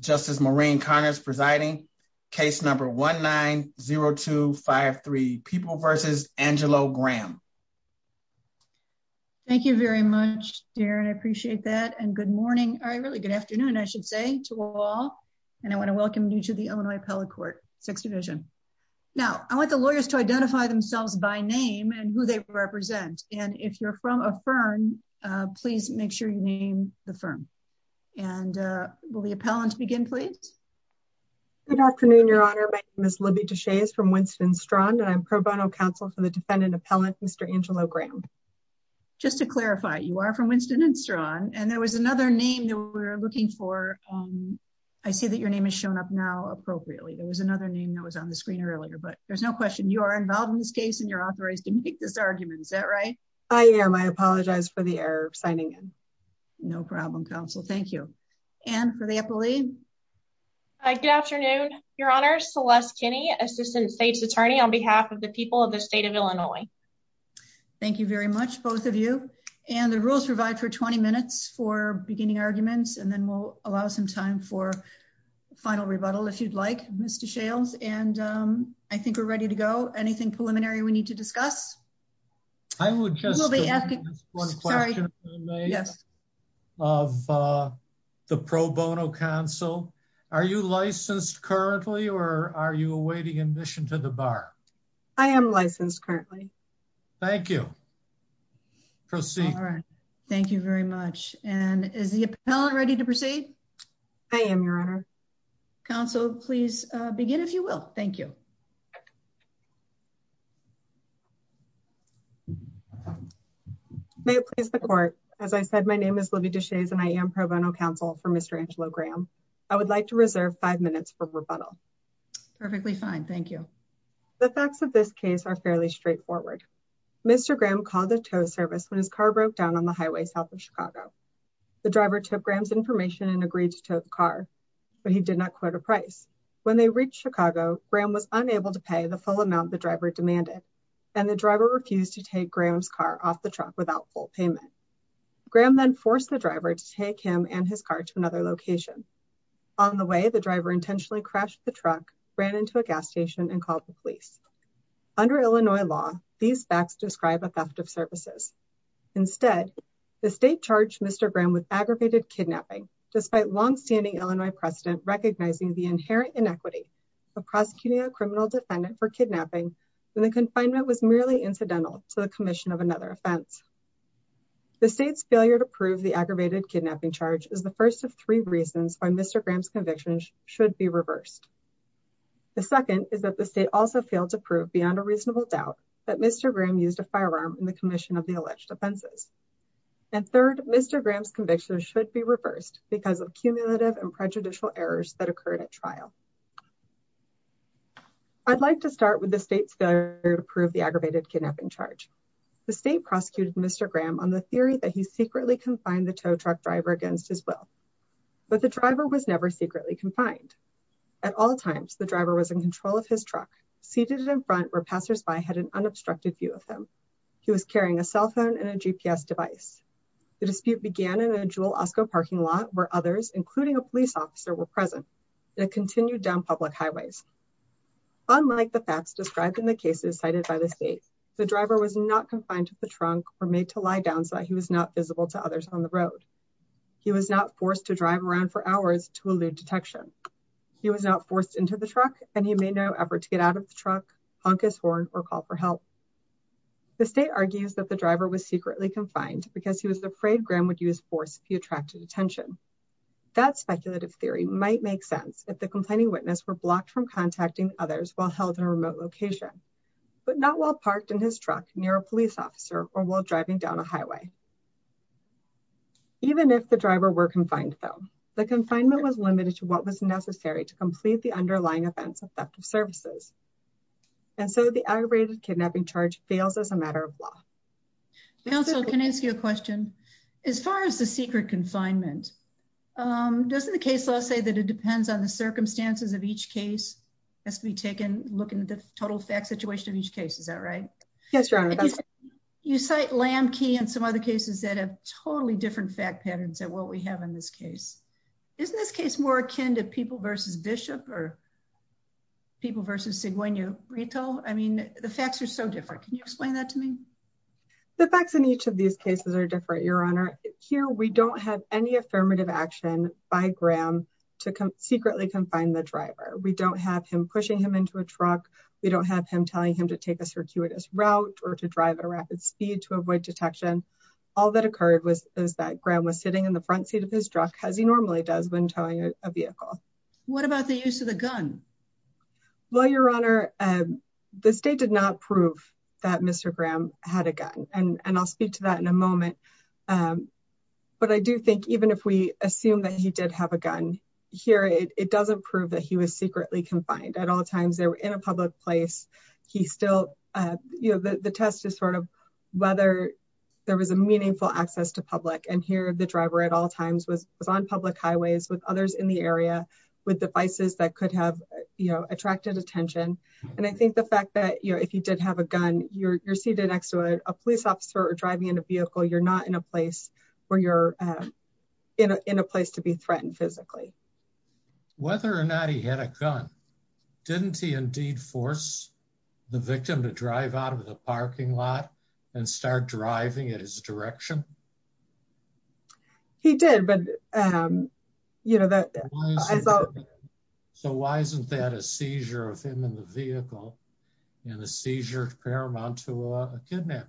Justice Maureen Connors presiding, case number 1-9-0253, People v. Angelo Graham. Thank you very much, Darren. I appreciate that. And good morning, or really good afternoon, I should say, to all. And I want to welcome you to the Illinois Appellate Court, Sixth Division. Now, I want the lawyers to identify themselves by name and who they represent. And if you're from a firm, please make sure you name the firm. And will the appellant begin, please? Good afternoon, Your Honor. My name is Libby Deshaies from Winston-Enstrand, and I'm pro bono counsel for the defendant appellant, Mr. Angelo Graham. Just to clarify, you are from Winston-Enstrand, and there was another name that we were looking for. I see that your name has shown up now appropriately. There was another name that was on the screen earlier, but there's no question you are involved in this case and authorized to make this argument. Is that right? I am. I apologize for the error of signing in. No problem, counsel. Thank you. And for the appellee? Good afternoon, Your Honor. Celeste Kinney, Assistant State's Attorney on behalf of the people of the state of Illinois. Thank you very much, both of you. And the rules provide for 20 minutes for beginning arguments, and then we'll allow some time for final rebuttal, if you'd like, Ms. Deshaies. And I think we're ready to go. Anything preliminary we need to discuss? I would just be asking one question of the pro bono counsel. Are you licensed currently, or are you awaiting admission to the bar? I am licensed currently. Thank you. Proceed. All right. Thank you very much. And is the appellant ready to proceed? I am, Your Honor. Counsel, please begin if you will. Thank you. May it please the court. As I said, my name is Libby Deshaies, and I am pro bono counsel for Mr. Angelo Graham. I would like to reserve five minutes for rebuttal. Perfectly fine. Thank you. The facts of this case are fairly straightforward. Mr. Graham called the tow service when his car broke down on the highway south of Chicago. The driver took Graham's information and agreed to tow the car, but he did not quote a price. When they reached Chicago, Graham was unable to pay the full amount the driver demanded, and the driver refused to take Graham's car off the truck without full payment. Graham then forced the driver to take him and his car to another location. On the way, the driver intentionally crashed the truck, ran into a gas station, and called the police. Under Illinois law, these facts describe a theft of services. Instead, the state charged Mr. Graham with aggravated kidnapping, despite long-standing Illinois precedent recognizing the inherent inequity of prosecuting a criminal defendant for kidnapping when the confinement was merely incidental to the commission of another offense. The state's failure to prove the aggravated kidnapping charge is the first of three reasons why Mr. Graham's convictions should be reversed. The second is that the state also failed to prove beyond a reasonable doubt that Mr. Graham used a firearm in the commission of the alleged offenses. And third, Mr. Graham's convictions should be reversed because of cumulative and prejudicial errors that occurred at trial. I'd like to start with the state's failure to prove the aggravated kidnapping charge. The state prosecuted Mr. Graham on the theory that he secretly confined the tow truck driver against his will, but the driver was never secretly confined. At all times, the driver was in control of his truck, seated in front where passersby had an unobstructed view of him. He was carrying a cell phone and a GPS device. The dispute began in a dual Osco parking lot where others, including a Unlike the facts described in the cases cited by the state, the driver was not confined to the trunk or made to lie down so he was not visible to others on the road. He was not forced to drive around for hours to elude detection. He was not forced into the truck and he made no effort to get out of the truck, honk his horn, or call for help. The state argues that the driver was secretly confined because he was afraid Graham would use force if he attracted attention. That speculative theory might make sense if the complaining witness were blocked from contacting others while held in a remote location, but not while parked in his truck near a police officer or while driving down a highway. Even if the driver were confined, though, the confinement was limited to what was necessary to complete the underlying offense of theft of services, and so the aggravated kidnapping charge fails as a matter of law. Council, can I ask you a question? As far as the secret confinement, doesn't the case law say that it depends on the circumstances of each case? Has to be taken looking at the total fact situation of each case, is that right? Yes, Your Honor. You cite Lamb Key and some other cases that have totally different fact patterns than what we have in this case. Isn't this case more akin to people versus Bishop or people versus Siguenio Rito? I mean, the facts are so different. Can you explain that to me? The facts in each of these cases are different, Your Honor. Here we don't have any affirmative action by Graham to secretly confine the driver. We don't have him pushing him into a truck. We don't have him telling him to take a circuitous route or to drive at a rapid speed to avoid detection. All that occurred was that Graham was sitting in the front seat of his truck as he normally does when towing a vehicle. What about the use of the gun? Well, Your Honor, the state did not prove that Mr. Graham had a gun, and I'll speak to that in a moment. But I do think even if we assume that he did have a gun, here it doesn't prove that he was secretly confined. At all times, they were in a public place. The test is sort of whether there was a meaningful access to public, and here the driver at all times was on public highways with others in the area with devices that could have attracted attention. And I think the fact that if he did have a gun, you're seated next to a police officer or driving in a vehicle, you're not in a place where you're in a place to be threatened physically. Whether or not he had a gun, didn't he indeed force the victim to drive out of the parking lot and start driving in his direction? He did. So why isn't that a seizure of him in the vehicle and a seizure paramount to a kidnapping?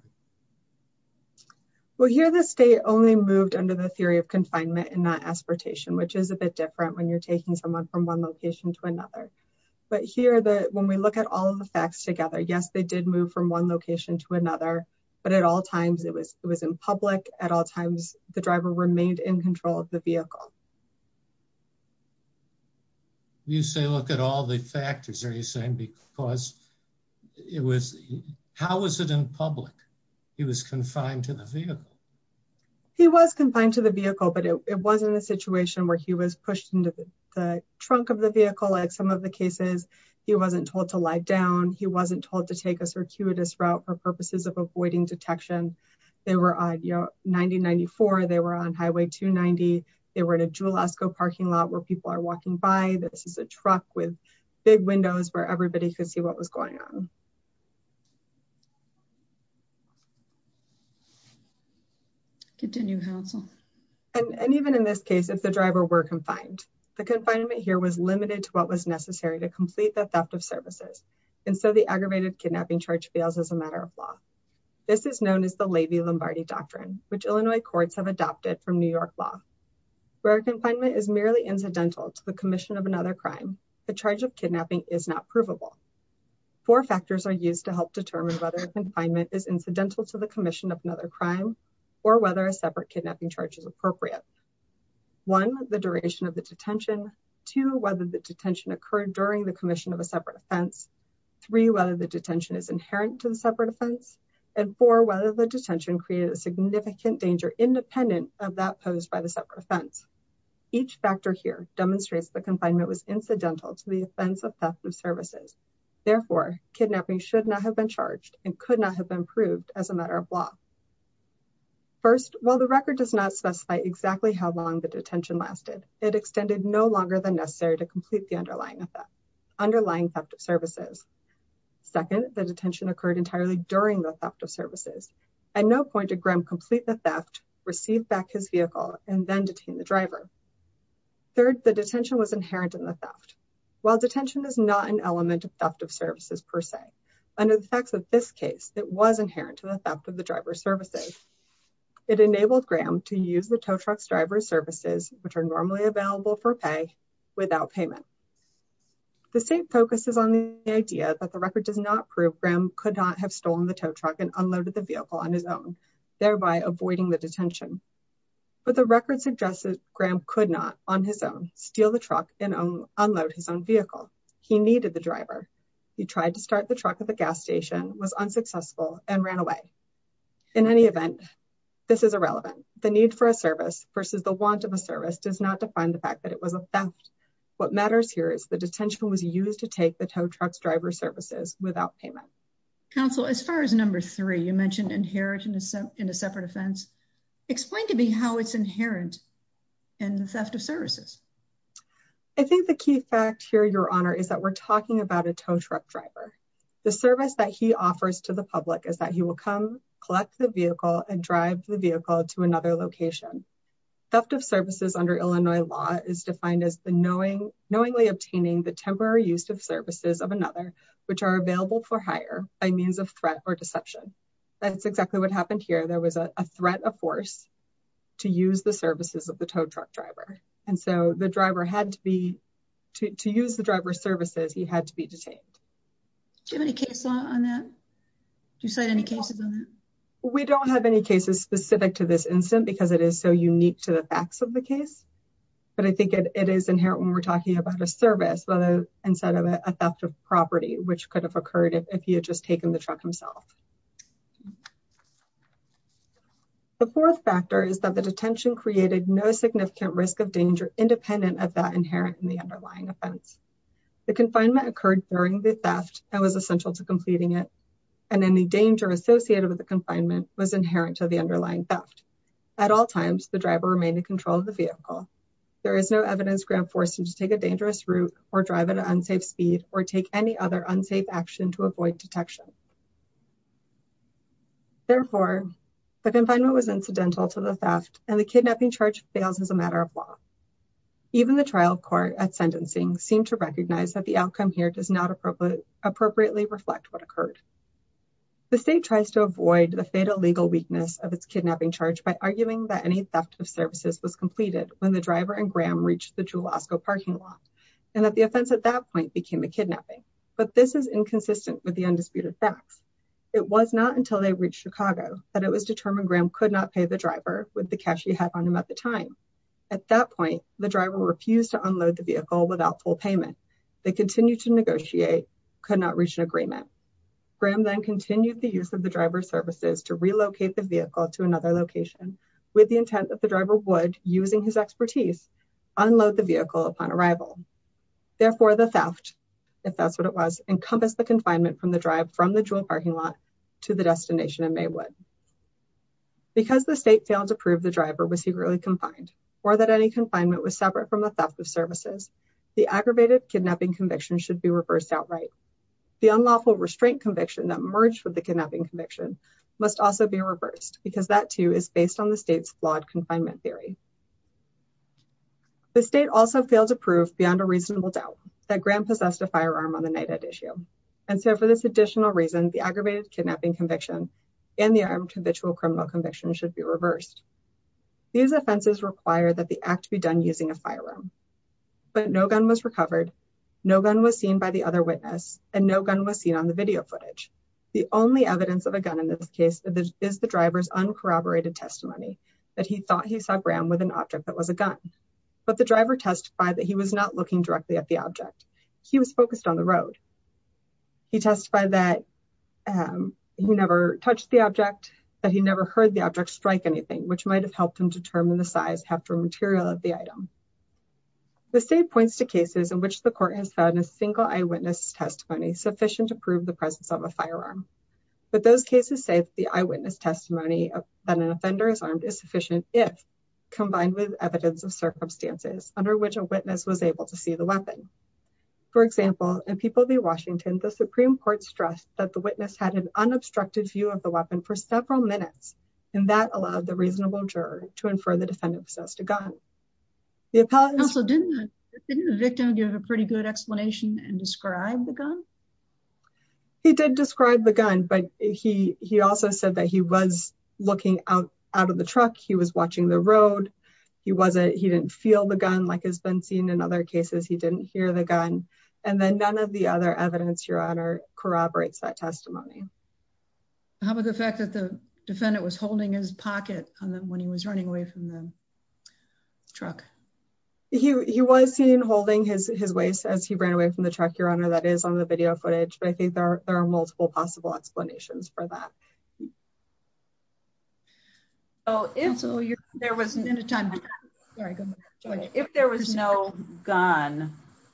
Well, here the state only moved under the theory of confinement and not aspiratation, which is a bit different when you're taking someone from one location to another. But here, when we look at all the facts together, yes, they did move from one location to another, at all times it was in public, at all times the driver remained in control of the vehicle. You say look at all the factors, are you saying because how was it in public? He was confined to the vehicle. He was confined to the vehicle, but it wasn't a situation where he was pushed into the trunk of the vehicle. Like some of the cases, he wasn't told to lie down, he wasn't told to take a circuitous route for purposes of avoiding detection. They were on 90-94, they were on Highway 290, they were in a Jules Esco parking lot where people are walking by. This is a truck with big windows where everybody could see what was going on. And even in this case, if the driver were confined, the confinement here was limited to what was necessary to complete the theft of services, and so the aggravated kidnapping charge fails as a matter of law. This is known as the Levy-Lombardi Doctrine, which Illinois courts have adopted from New York law. Where a confinement is merely incidental to the commission of another crime, the charge of kidnapping is not provable. Four factors are used to help determine whether a confinement is incidental to the commission of another crime, or whether a separate kidnapping charge is appropriate. One, the duration of the detention. Two, whether the detention occurred during the commission of a separate offense. Three, whether the detention is inherent to the separate offense. And four, whether the detention created a significant danger independent of that posed by the separate offense. Each factor here demonstrates the confinement was incidental to the offense of theft of services. Therefore, kidnapping should not have been charged and have been proved as a matter of law. First, while the record does not specify exactly how long the detention lasted, it extended no longer than necessary to complete the underlying theft of services. Second, the detention occurred entirely during the theft of services. At no point did Grim complete the theft, receive back his vehicle, and then detain the driver. Third, the detention was inherent in the theft. While detention is not an element of theft of services per se, under the facts of this case, it was inherent to the theft of the driver's services. It enabled Grim to use the tow truck's driver's services, which are normally available for pay, without payment. The state focuses on the idea that the record does not prove Grim could not have stolen the tow truck and unloaded the vehicle on his own, thereby avoiding the detention. But the record suggests that Grim could not, on his own, steal the truck and unload his own vehicle. He driver. He tried to start the truck at the gas station, was unsuccessful, and ran away. In any event, this is irrelevant. The need for a service versus the want of a service does not define the fact that it was a theft. What matters here is the detention was used to take the tow truck's driver's services without payment. Counsel, as far as number three, you mentioned inherent in a separate offense. Explain to me how it's inherent in the theft of services. I think the key fact here, your honor, is that we're talking about a tow truck driver. The service that he offers to the public is that he will come collect the vehicle and drive the vehicle to another location. Theft of services under Illinois law is defined as the knowing, knowingly obtaining the temporary use of services of another, which are available for hire by means of threat or deception. That's exactly what happened here. There was a threat of force to use the services of the tow truck driver. So the driver had to be, to use the driver's services, he had to be detained. Do you have any case on that? Do you cite any cases on that? We don't have any cases specific to this incident because it is so unique to the facts of the case, but I think it is inherent when we're talking about a service, instead of a theft of property, which could have occurred if he had just taken the truck himself. Okay. The fourth factor is that the detention created no significant risk of danger, independent of that inherent in the underlying offense. The confinement occurred during the theft and was essential to completing it. And any danger associated with the confinement was inherent to the underlying theft. At all times, the driver remained in control of the vehicle. There is no evidence grant forcing to take a dangerous route or drive at an unsafe speed or take any other unsafe action to avoid detection. Therefore, the confinement was incidental to the theft and the kidnapping charge fails as a matter of law. Even the trial court at sentencing seemed to recognize that the outcome here does not appropriately reflect what occurred. The state tries to avoid the fatal legal weakness of its kidnapping charge by arguing that any theft of services was completed when the driver and Graham reached the parking lot and that the offense at that point became a kidnapping. But this is inconsistent with the undisputed facts. It was not until they reached Chicago that it was determined Graham could not pay the driver with the cash he had on him at the time. At that point, the driver refused to unload the vehicle without full payment. They continued to negotiate, could not reach an agreement. Graham then continued the use of the driver services to relocate the vehicle to another location with the intent that the driver would, using his expertise, unload the vehicle upon arrival. Therefore, the theft, if that's what it was, encompassed the confinement from the drive from the jewel parking lot to the destination in Maywood. Because the state failed to prove the driver was secretly confined or that any confinement was separate from the theft of services, the aggravated kidnapping conviction should be reversed outright. The unlawful restraint conviction that merged with the kidnapping conviction must also be reversed because that too is based on the state's flawed confinement theory. The state also failed to prove beyond a reasonable doubt that Graham possessed a firearm on the night at issue. And so for this additional reason, the aggravated kidnapping conviction and the armed habitual criminal conviction should be reversed. These offenses require that the act be done using a firearm. But no gun was recovered, no gun was on the video footage. The only evidence of a gun in this case is the driver's uncorroborated testimony that he thought he saw Graham with an object that was a gun. But the driver testified that he was not looking directly at the object. He was focused on the road. He testified that he never touched the object, that he never heard the object strike anything, which might have helped him determine the size, heft, or material of the item. The state points to cases in which the court has found a single eyewitness testimony sufficient to prove the presence of a firearm. But those cases say the eyewitness testimony that an offender is armed is sufficient if combined with evidence of circumstances under which a witness was able to see the weapon. For example, in People v. Washington, the Supreme Court stressed that the witness had an unobstructed view of the weapon for several minutes, and that allowed the reasonable juror to infer the defendant possessed a gun. Didn't the victim give a pretty good explanation and describe the gun? He did describe the gun, but he also said that he was looking out of the truck. He was watching the road. He didn't feel the gun like has been seen in other cases. He didn't hear the gun. And then none of the other evidence, Your Honor, corroborates that testimony. How about the fact that the defendant was holding his pocket when he was running away from them? Truck. He was seen holding his waist as he ran away from the truck. Your Honor, that is on the video footage. But I think there are multiple possible explanations for that. So if there was no gun,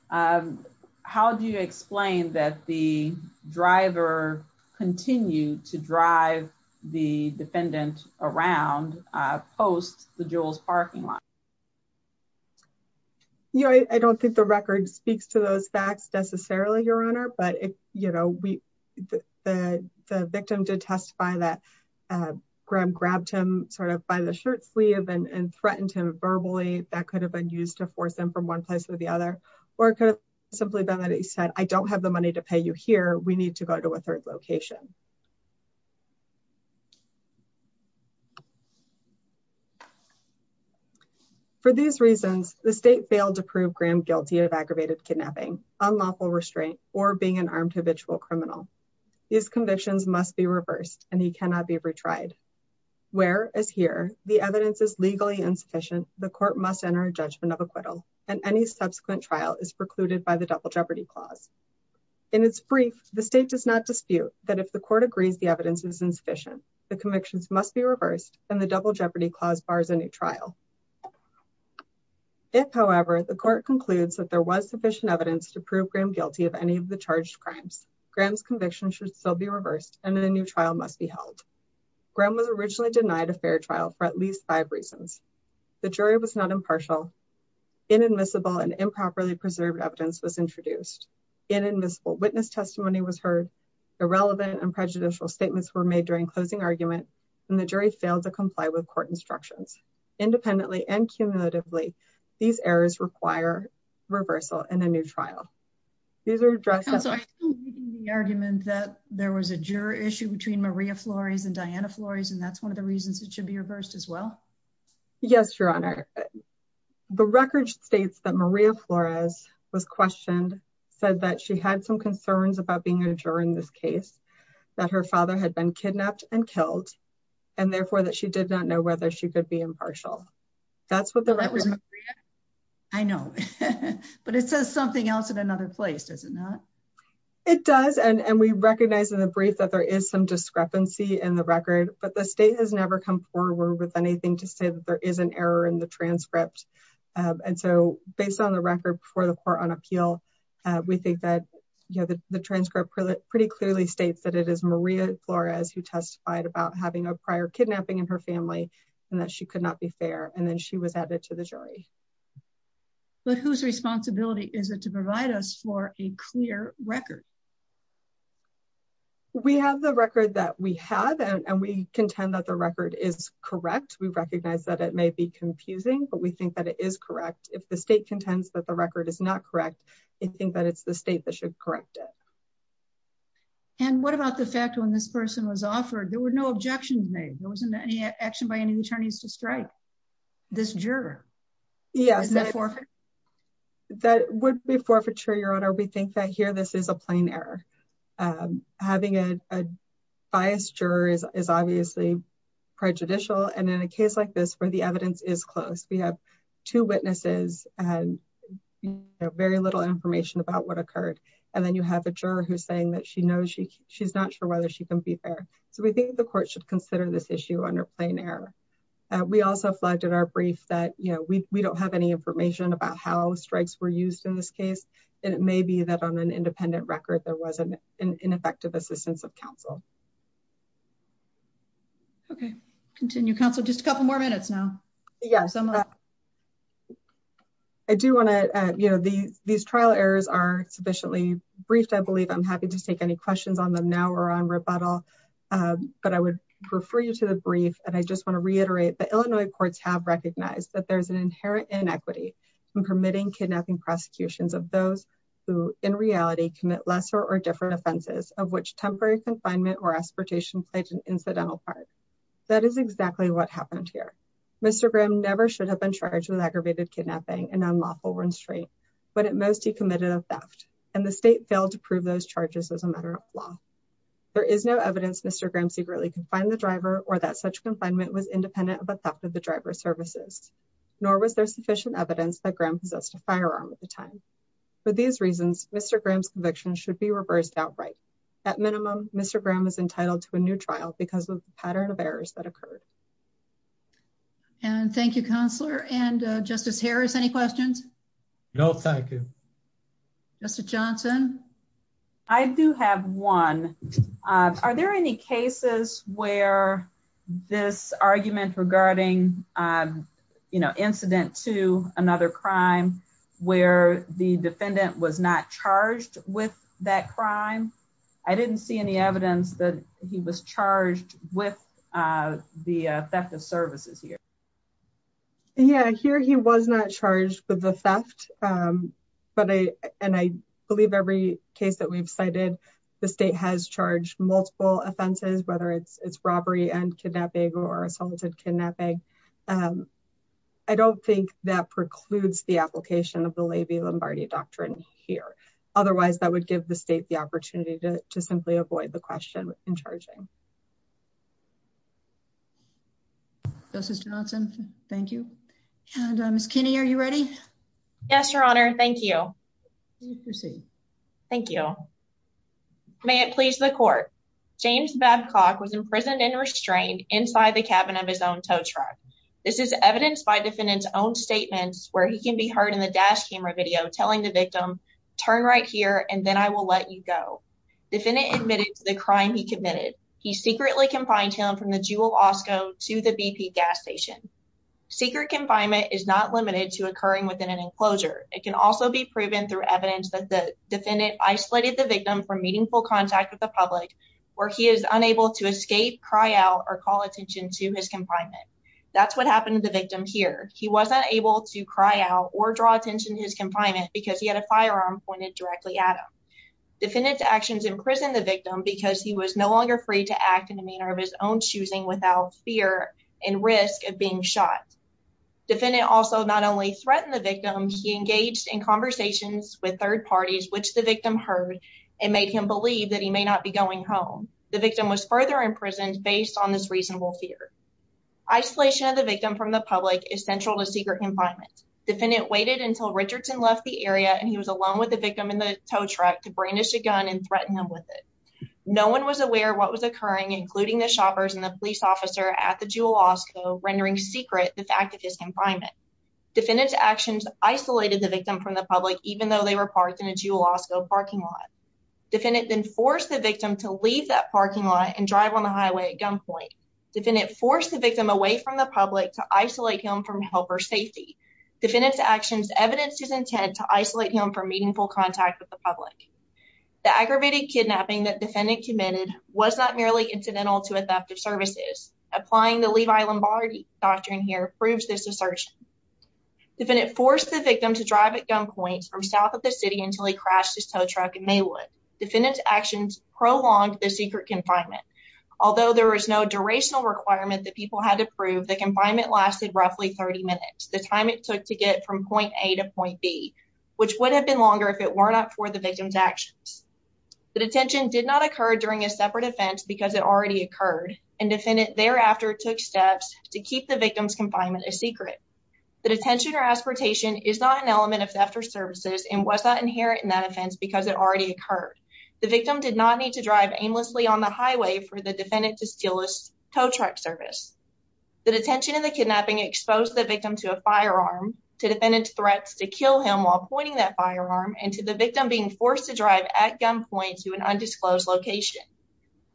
how do you explain that the driver continued to drive the defendant around post the Jules parking lot? Yeah, I don't think the record speaks to those facts necessarily, Your Honor. But if, you know, the victim did testify that Graham grabbed him sort of by the shirt sleeve and threatened him verbally, that could have been used to force them from one place to the other. Or it could have simply been that he said, I don't have the money to pay you here. We need to go to a third location. Okay. For these reasons, the state failed to prove Graham guilty of aggravated kidnapping, unlawful restraint, or being an armed habitual criminal. These convictions must be reversed, and he cannot be retried. Whereas here, the evidence is legally insufficient, the court must enter a judgment of acquittal, and any subsequent trial is precluded by the double jeopardy clause. In its brief, the state does not dispute that if the court agrees the evidence is sufficient, the convictions must be reversed, and the double jeopardy clause bars a new trial. If, however, the court concludes that there was sufficient evidence to prove Graham guilty of any of the charged crimes, Graham's conviction should still be reversed, and a new trial must be held. Graham was originally denied a fair trial for at least five reasons. The jury was not impartial. Inadmissible and improperly preserved evidence was introduced. Inadmissible witness testimony was heard. Irrelevant and prejudicial statements were made during closing argument, and the jury failed to comply with court instructions. Independently and cumulatively, these errors require reversal and a new trial. These are addressed... Counselor, I think you're making the argument that there was a juror issue between Maria Flores and Diana Flores, and that's one of the reasons it should be reversed as well? Yes, Your Honor. The record states that Maria Flores was questioned, said that she had some juror in this case, that her father had been kidnapped and killed, and therefore that she did not know whether she could be impartial. That's what the record... That was Maria? I know, but it says something else in another place, does it not? It does, and we recognize in the brief that there is some discrepancy in the record, but the state has never come forward with anything to say that there is an error in the transcript, and so based on the record before the court on appeal, we think that the transcript pretty clearly states that it is Maria Flores who testified about having a prior kidnapping in her family and that she could not be fair, and then she was added to the jury. But whose responsibility is it to provide us for a clear record? We have the record that we have, and we contend that the record is correct. We recognize that it may be confusing, but we think that it is correct. If the state contends that the record is not correct, we think that it's the state that should correct it. And what about the fact when this person was offered, there were no objections made, there wasn't any action by any attorneys to strike this juror? Is that forfeiture? That would be forfeiture, Your Honor. We think that here this is a plain error. Having a biased juror is obviously prejudicial, and in a case like this where the evidence is close, we have two witnesses and very little information about what occurred, and then you have a juror who's saying that she's not sure whether she can be fair. So we think the court should consider this issue under plain error. We also flagged in our brief that we don't have any information about how there was an ineffective assistance of counsel. Okay, continue, counsel. Just a couple more minutes now. I do want to, you know, these trial errors are sufficiently briefed. I believe I'm happy to take any questions on them now or on rebuttal, but I would refer you to the brief, and I just want to reiterate that Illinois courts have recognized that there's an inherent inequity in permitting kidnapping prosecutions of those who, in reality, commit lesser or different offenses of which temporary confinement or aspiration played an incidental part. That is exactly what happened here. Mr. Graham never should have been charged with aggravated kidnapping, an unlawful restraint, but at most he committed a theft, and the state failed to prove those charges as a matter of law. There is no evidence Mr. Graham secretly confined the driver or that such confinement was independent of a theft of the driver's services, nor was there sufficient evidence that Graham possessed a firearm at the time. For these reasons, Mr. Graham's conviction should be reversed outright. At minimum, Mr. Graham is entitled to a new trial because of the pattern of errors that occurred. And thank you, Counselor. And Justice Harris, any questions? No, thank you. Justice Johnson? I do have one. Are there any cases where this argument regarding, um, you know, incident to another crime where the defendant was not charged with that crime? I didn't see any evidence that he was charged with the theft of services here. Yeah, here he was not charged with the theft. But I, and I believe every case that we've cited, the state has charged multiple offenses, whether it's robbery and kidnapping or assault and kidnapping. I don't think that precludes the application of the Levy-Lombardi Doctrine here. Otherwise, that would give the state the opportunity to simply avoid the question in charging. Justice Johnson, thank you. And Ms. Kinney, are you ready? Yes, Your Honor. Thank you. Please proceed. Thank you. May it please the court. James Babcock was imprisoned and restrained inside the cabin of his own tow truck. This is evidenced by defendant's own statements where he can be heard in the dash camera video telling the victim, turn right here and then I will let you go. Defendant admitted to the crime he committed. He secretly confined him from the Jewel Osco to the BP gas station. Secret confinement is not limited to occurring within an enclosure. It can also be proven through evidence that the defendant isolated the victim from meaningful contact with public where he is unable to escape, cry out or call attention to his confinement. That's what happened to the victim here. He wasn't able to cry out or draw attention to his confinement because he had a firearm pointed directly at him. Defendant's actions imprisoned the victim because he was no longer free to act in the manner of his own choosing without fear and risk of being shot. Defendant also not only threatened the victim, he engaged in conversations with third parties, which the victim heard and made him believe that he may not be going home. The victim was further imprisoned based on this reasonable fear. Isolation of the victim from the public is central to secret confinement. Defendant waited until Richardson left the area and he was alone with the victim in the tow truck to brandish a gun and threaten him with it. No one was aware what was occurring, including the shoppers and the police officer at the Jewel Osco, rendering secret the fact of his confinement. Defendant's actions isolated the victim from the public even though they were parked in a Jewel Osco parking lot. Defendant then forced the victim to leave that parking lot and drive on the highway at gunpoint. Defendant forced the victim away from the public to isolate him from helper safety. Defendant's actions evidenced his intent to isolate him from meaningful contact with the public. The aggravated kidnapping that defendant committed was not merely incidental to a theft of services. Applying the Levi Lombardi doctrine here proves this assertion. Defendant forced the victim to drive at gunpoint from south of the city until he crashed his tow truck in Maywood. Defendant's actions prolonged the secret confinement. Although there was no durational requirement that people had to prove, the confinement lasted roughly 30 minutes, the time it took to get from point A to point B, which would have been longer if it were not for the victim's actions. The detention did not occur during a separate event because it already occurred and defendant thereafter took steps to keep the victim's confinement a secret. The detention or aspertation is not an element of theft or services and was not inherent in that offense because it already occurred. The victim did not need to drive aimlessly on the highway for the defendant to steal his tow truck service. The detention and the kidnapping exposed the victim to a firearm, to defendant's threats to kill him while pointing that firearm, and to the victim being forced to drive at gunpoint to an undisclosed location.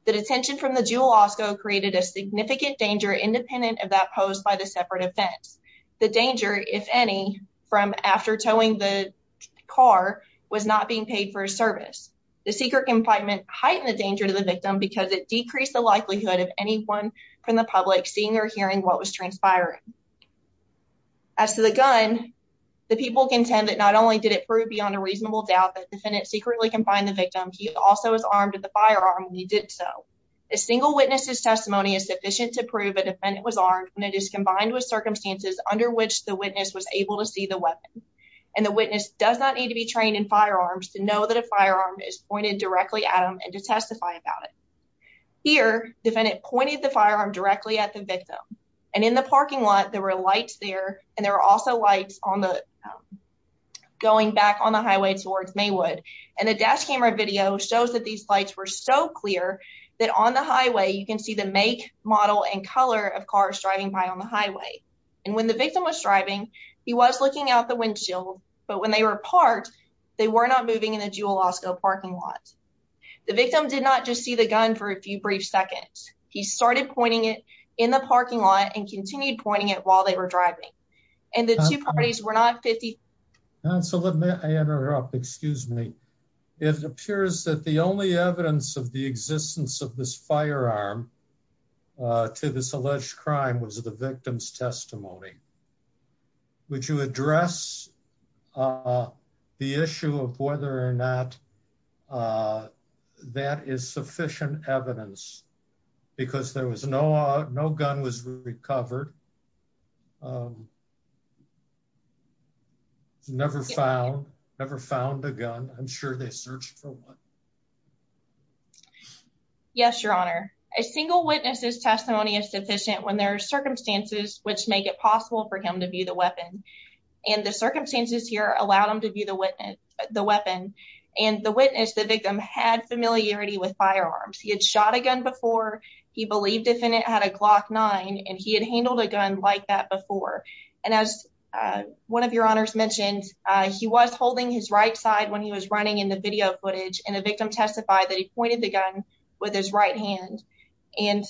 The detention from the Jewel created a significant danger independent of that posed by the separate offense. The danger, if any, from after towing the car was not being paid for his service. The secret confinement heightened the danger to the victim because it decreased the likelihood of anyone from the public seeing or hearing what was transpiring. As to the gun, the people contend that not only did it prove beyond a reasonable doubt that defendant secretly confined the victim, he also was armed with a firearm when he did so. A single witness's testimony is sufficient to prove a defendant was armed when it is combined with circumstances under which the witness was able to see the weapon. And the witness does not need to be trained in firearms to know that a firearm is pointed directly at him and to testify about it. Here, defendant pointed the firearm directly at the victim. And in the parking lot, there were lights there, and there were also lights going back on the highway towards Maywood. And the dash camera video shows that these lights were so clear that on the highway, you can see the make, model, and color of cars driving by on the highway. And when the victim was driving, he was looking out the windshield, but when they were parked, they were not moving in the Jewel Osco parking lot. The victim did not just see the gun for a few brief seconds. He started pointing it in the parking lot and continued pointing it while they were driving. And the two parties were not 50. So let me interrupt. Excuse me. It appears that the only evidence of the existence of this firearm to this alleged crime was the victim's testimony. Would you address the issue of whether or not uh, that is sufficient evidence because there was no, no gun was recovered. Never found, never found a gun. I'm sure they searched for one. Yes, your honor. A single witness's testimony is sufficient when there are circumstances which make it possible for him to view the weapon. And the circumstances here allowed them to view the weapon. And the witness, the victim, had familiarity with firearms. He had shot a gun before. He believed the defendant had a Glock 9 and he had handled a gun like that before. And as one of your honors mentioned, he was holding his right side when he was running in the video footage and the victim testified that he pointed the gun with his right hand. And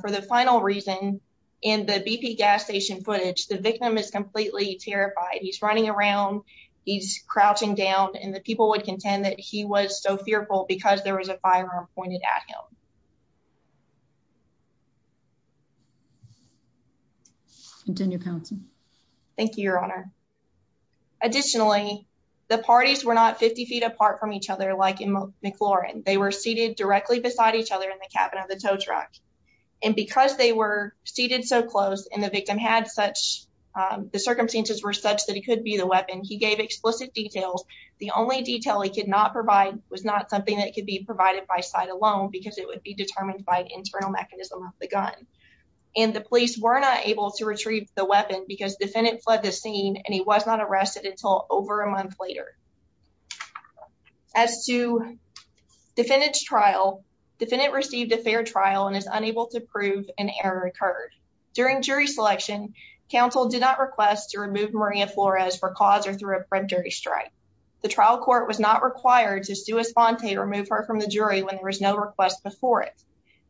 for the final reason, in the BP gas station footage, the victim is completely terrified. He's running around, he's crouching down and the people would contend that he was so fearful because there was a firearm pointed at him. Thank you, your honor. Additionally, the parties were not 50 feet apart from each other. Like in McLaurin, they were seated directly beside each other in the cabin of the tow truck. And because they were seated so close and the victim had such, um, the weapon, he gave explicit details. The only detail he could not provide was not something that could be provided by sight alone because it would be determined by internal mechanism of the gun. And the police were not able to retrieve the weapon because defendant fled the scene and he was not arrested until over a month later. As to defendant's trial, defendant received a fair trial and is unable to prove an error occurred. During jury selection, counsel did not request to remove Maria Flores for cause or through a predatory strike. The trial court was not required to sue a sponte to remove her from the jury when there was no request before it.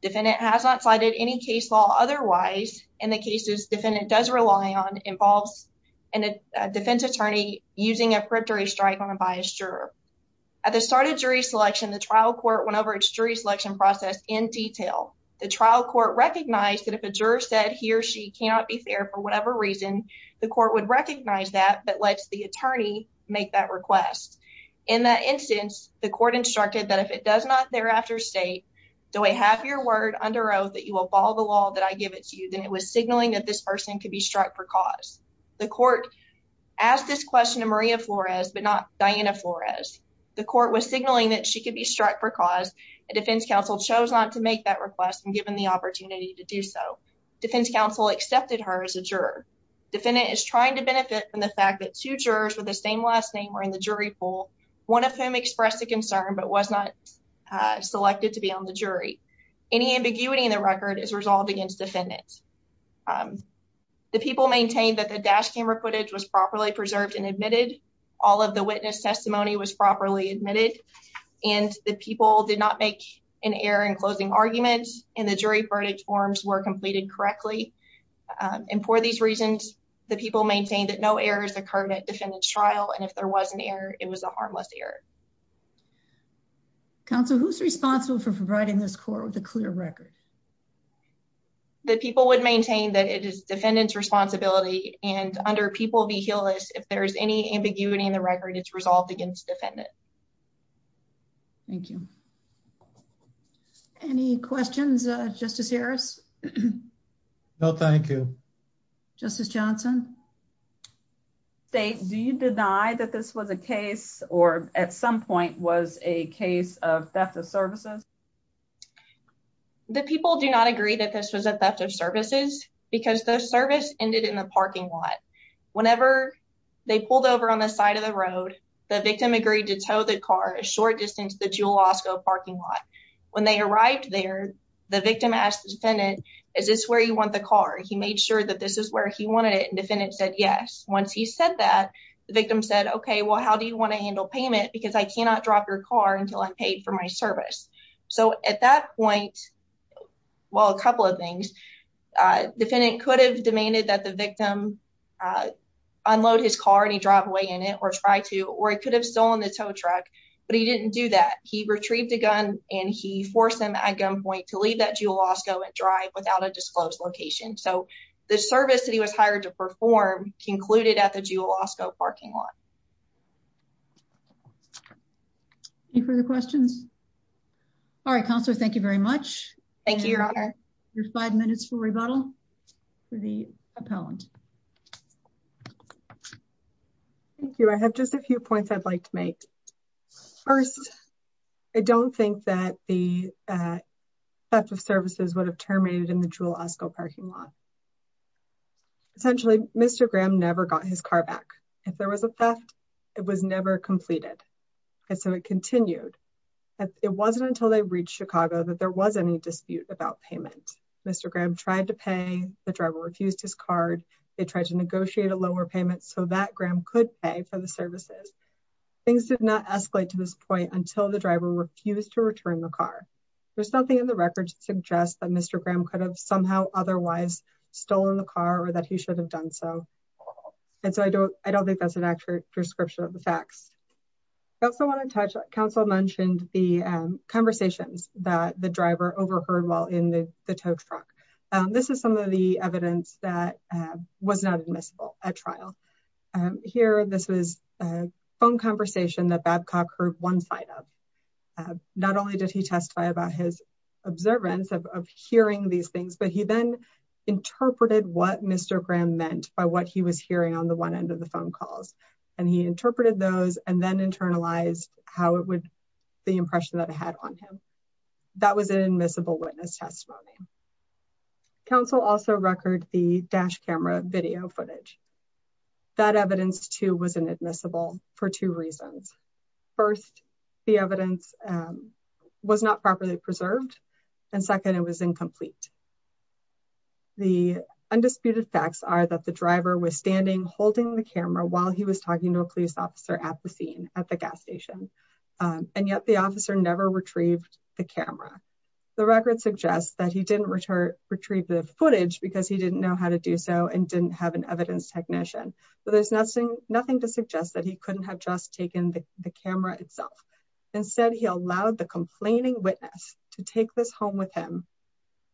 Defendant has not cited any case law otherwise, and the cases defendant does rely on involves a defense attorney using a predatory strike on a biased juror. At the start of jury selection, the trial court went over its jury selection process in detail. The trial court recognized that if a juror said he or she cannot be there for whatever reason, the court would recognize that that lets the attorney make that request. In that instance, the court instructed that if it does not thereafter state, do I have your word under oath that you will follow the law that I give it to you? Then it was signaling that this person could be struck for cause. The court asked this question to Maria Flores, but not Diana Flores. The court was signaling that she could be to do so. Defense counsel accepted her as a juror. Defendant is trying to benefit from the fact that two jurors with the same last name were in the jury pool, one of whom expressed a concern but was not selected to be on the jury. Any ambiguity in the record is resolved against defendants. The people maintained that the dash camera footage was properly preserved and admitted. All of the witness testimony was properly admitted, and the people did not make an error in the jury verdict forms were completed correctly. And for these reasons, the people maintained that no errors occurred at defendant's trial, and if there was an error, it was a harmless error. Counsel, who's responsible for providing this court with a clear record? The people would maintain that it is defendant's responsibility, and under People v. Hewless, if there's any ambiguity in the record, it's resolved against defendant. Thank you. Any questions, Justice Harris? No, thank you. Justice Johnson? State, do you deny that this was a case, or at some point, was a case of theft of services? The people do not agree that this was a theft of services because the service ended in the parking lot. Whenever they pulled over on the side of the road, the victim agreed to tow the car a short distance to the Jules Osgo parking lot. When they arrived there, the victim asked the defendant, is this where you want the car? He made sure that this is where he wanted it, and defendant said yes. Once he said that, the victim said, okay, well, how do you want to handle payment? Because I cannot drop your car until I'm paid for my service. So at that point, well, a couple of things. Defendant could have demanded that the victim unload his car, and he drive away in it, or try to, or he could have stolen the tow truck, but he didn't do that. He retrieved a gun, and he forced him at gunpoint to leave that Jules Osgo and drive without a disclosed location. So the service that he was hired to perform concluded at the Jules Osgo parking lot. Any further questions? All right, minutes for rebuttal. The opponent. Thank you. I have just a few points I'd like to make. First, I don't think that the theft of services would have terminated in the Jules Osgo parking lot. Essentially, Mr. Graham never got his car back. If there was a theft, it was never completed. And so it continued. It wasn't until they reached Chicago that there was any dispute about payment. Mr. Graham tried to pay, the driver refused his card. They tried to negotiate a lower payment so that Graham could pay for the services. Things did not escalate to this point until the driver refused to return the car. There's nothing in the record to suggest that Mr. Graham could have somehow otherwise stolen the car, or that he should have done so. And so I don't think that's an accurate description of the facts. I also want to touch, Council mentioned the conversations that driver overheard while in the tow truck. This is some of the evidence that was not admissible at trial. Here, this was a phone conversation that Babcock heard one side of. Not only did he testify about his observance of hearing these things, but he then interpreted what Mr. Graham meant by what he was hearing on the one end of the phone calls. And he interpreted those and then internalized how it would, the impression that I had on him. That was an admissible witness testimony. Council also record the dash camera video footage. That evidence too was inadmissible for two reasons. First, the evidence was not properly preserved. And second, it was incomplete. The undisputed facts are that the driver was standing holding the camera while he was talking to a police officer at the scene at the gas station. And yet the officer never retrieved the camera. The record suggests that he didn't return retrieve the footage because he didn't know how to do so and didn't have an evidence technician. But there's nothing to suggest that he couldn't have just taken the camera itself. Instead, he allowed the complaining witness to take this home with him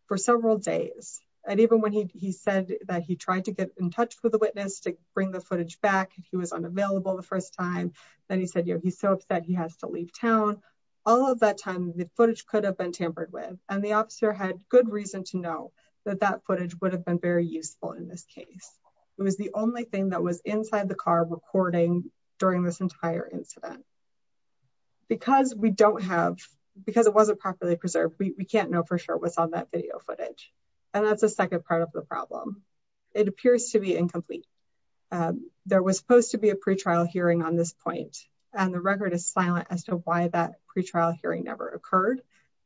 for several days. And even when he said that he tried to get in touch with the witness to bring the footage back, he was unavailable the first time. Then he said, yeah, he's so upset he has to leave town. All of that time, the footage could have been tampered with. And the officer had good reason to know that that footage would have been very useful in this case. It was the only thing that was inside the car recording during this entire incident. Because we don't have, because it wasn't properly preserved, we can't know for sure what's on that video footage. And that's the second part of the problem. It appears to be incomplete. There was supposed to be a pretrial hearing on this point. And the record is silent as to why that pretrial hearing never occurred.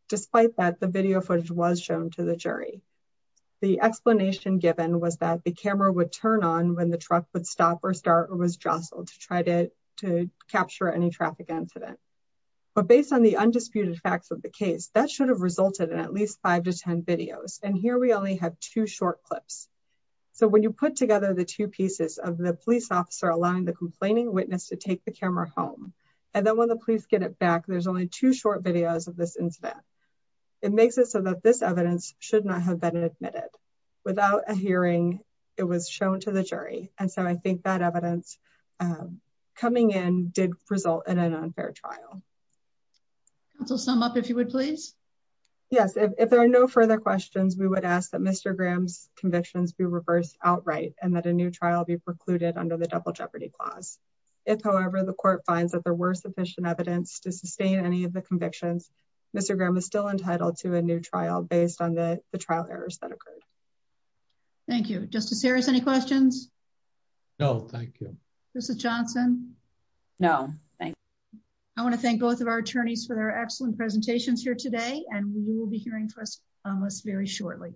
Despite that, the video footage was shown to the jury. The explanation given was that the camera would turn on when the truck would stop or start or was jostled to try to capture any traffic incident. But based on the undisputed facts of the case, that should have resulted in at least five to 10 videos. And here we only have two short clips. So when you put together the two pieces of the police officer allowing the complaining witness to take the camera home, and then when the police get it back, there's only two short videos of this incident. It makes it so that this evidence should not have been admitted. Without a hearing, it was shown to the jury. And so I think that evidence coming in did result in an unfair trial. I'll sum up if you would, please. Yes, if there are no further questions, we would ask that Mr. Graham's convictions be reversed outright and that a new trial be precluded under the double jeopardy clause. If however, the court finds that there were sufficient evidence to sustain any of the convictions, Mr. Graham is still entitled to a new trial based on the trial errors that occurred. Thank you. Justice Harris, any questions? No, thank you. Justice Johnson? No, thank you. I want to thank both of our attorneys for their excellent presentations here today, and we will be hearing from us very shortly.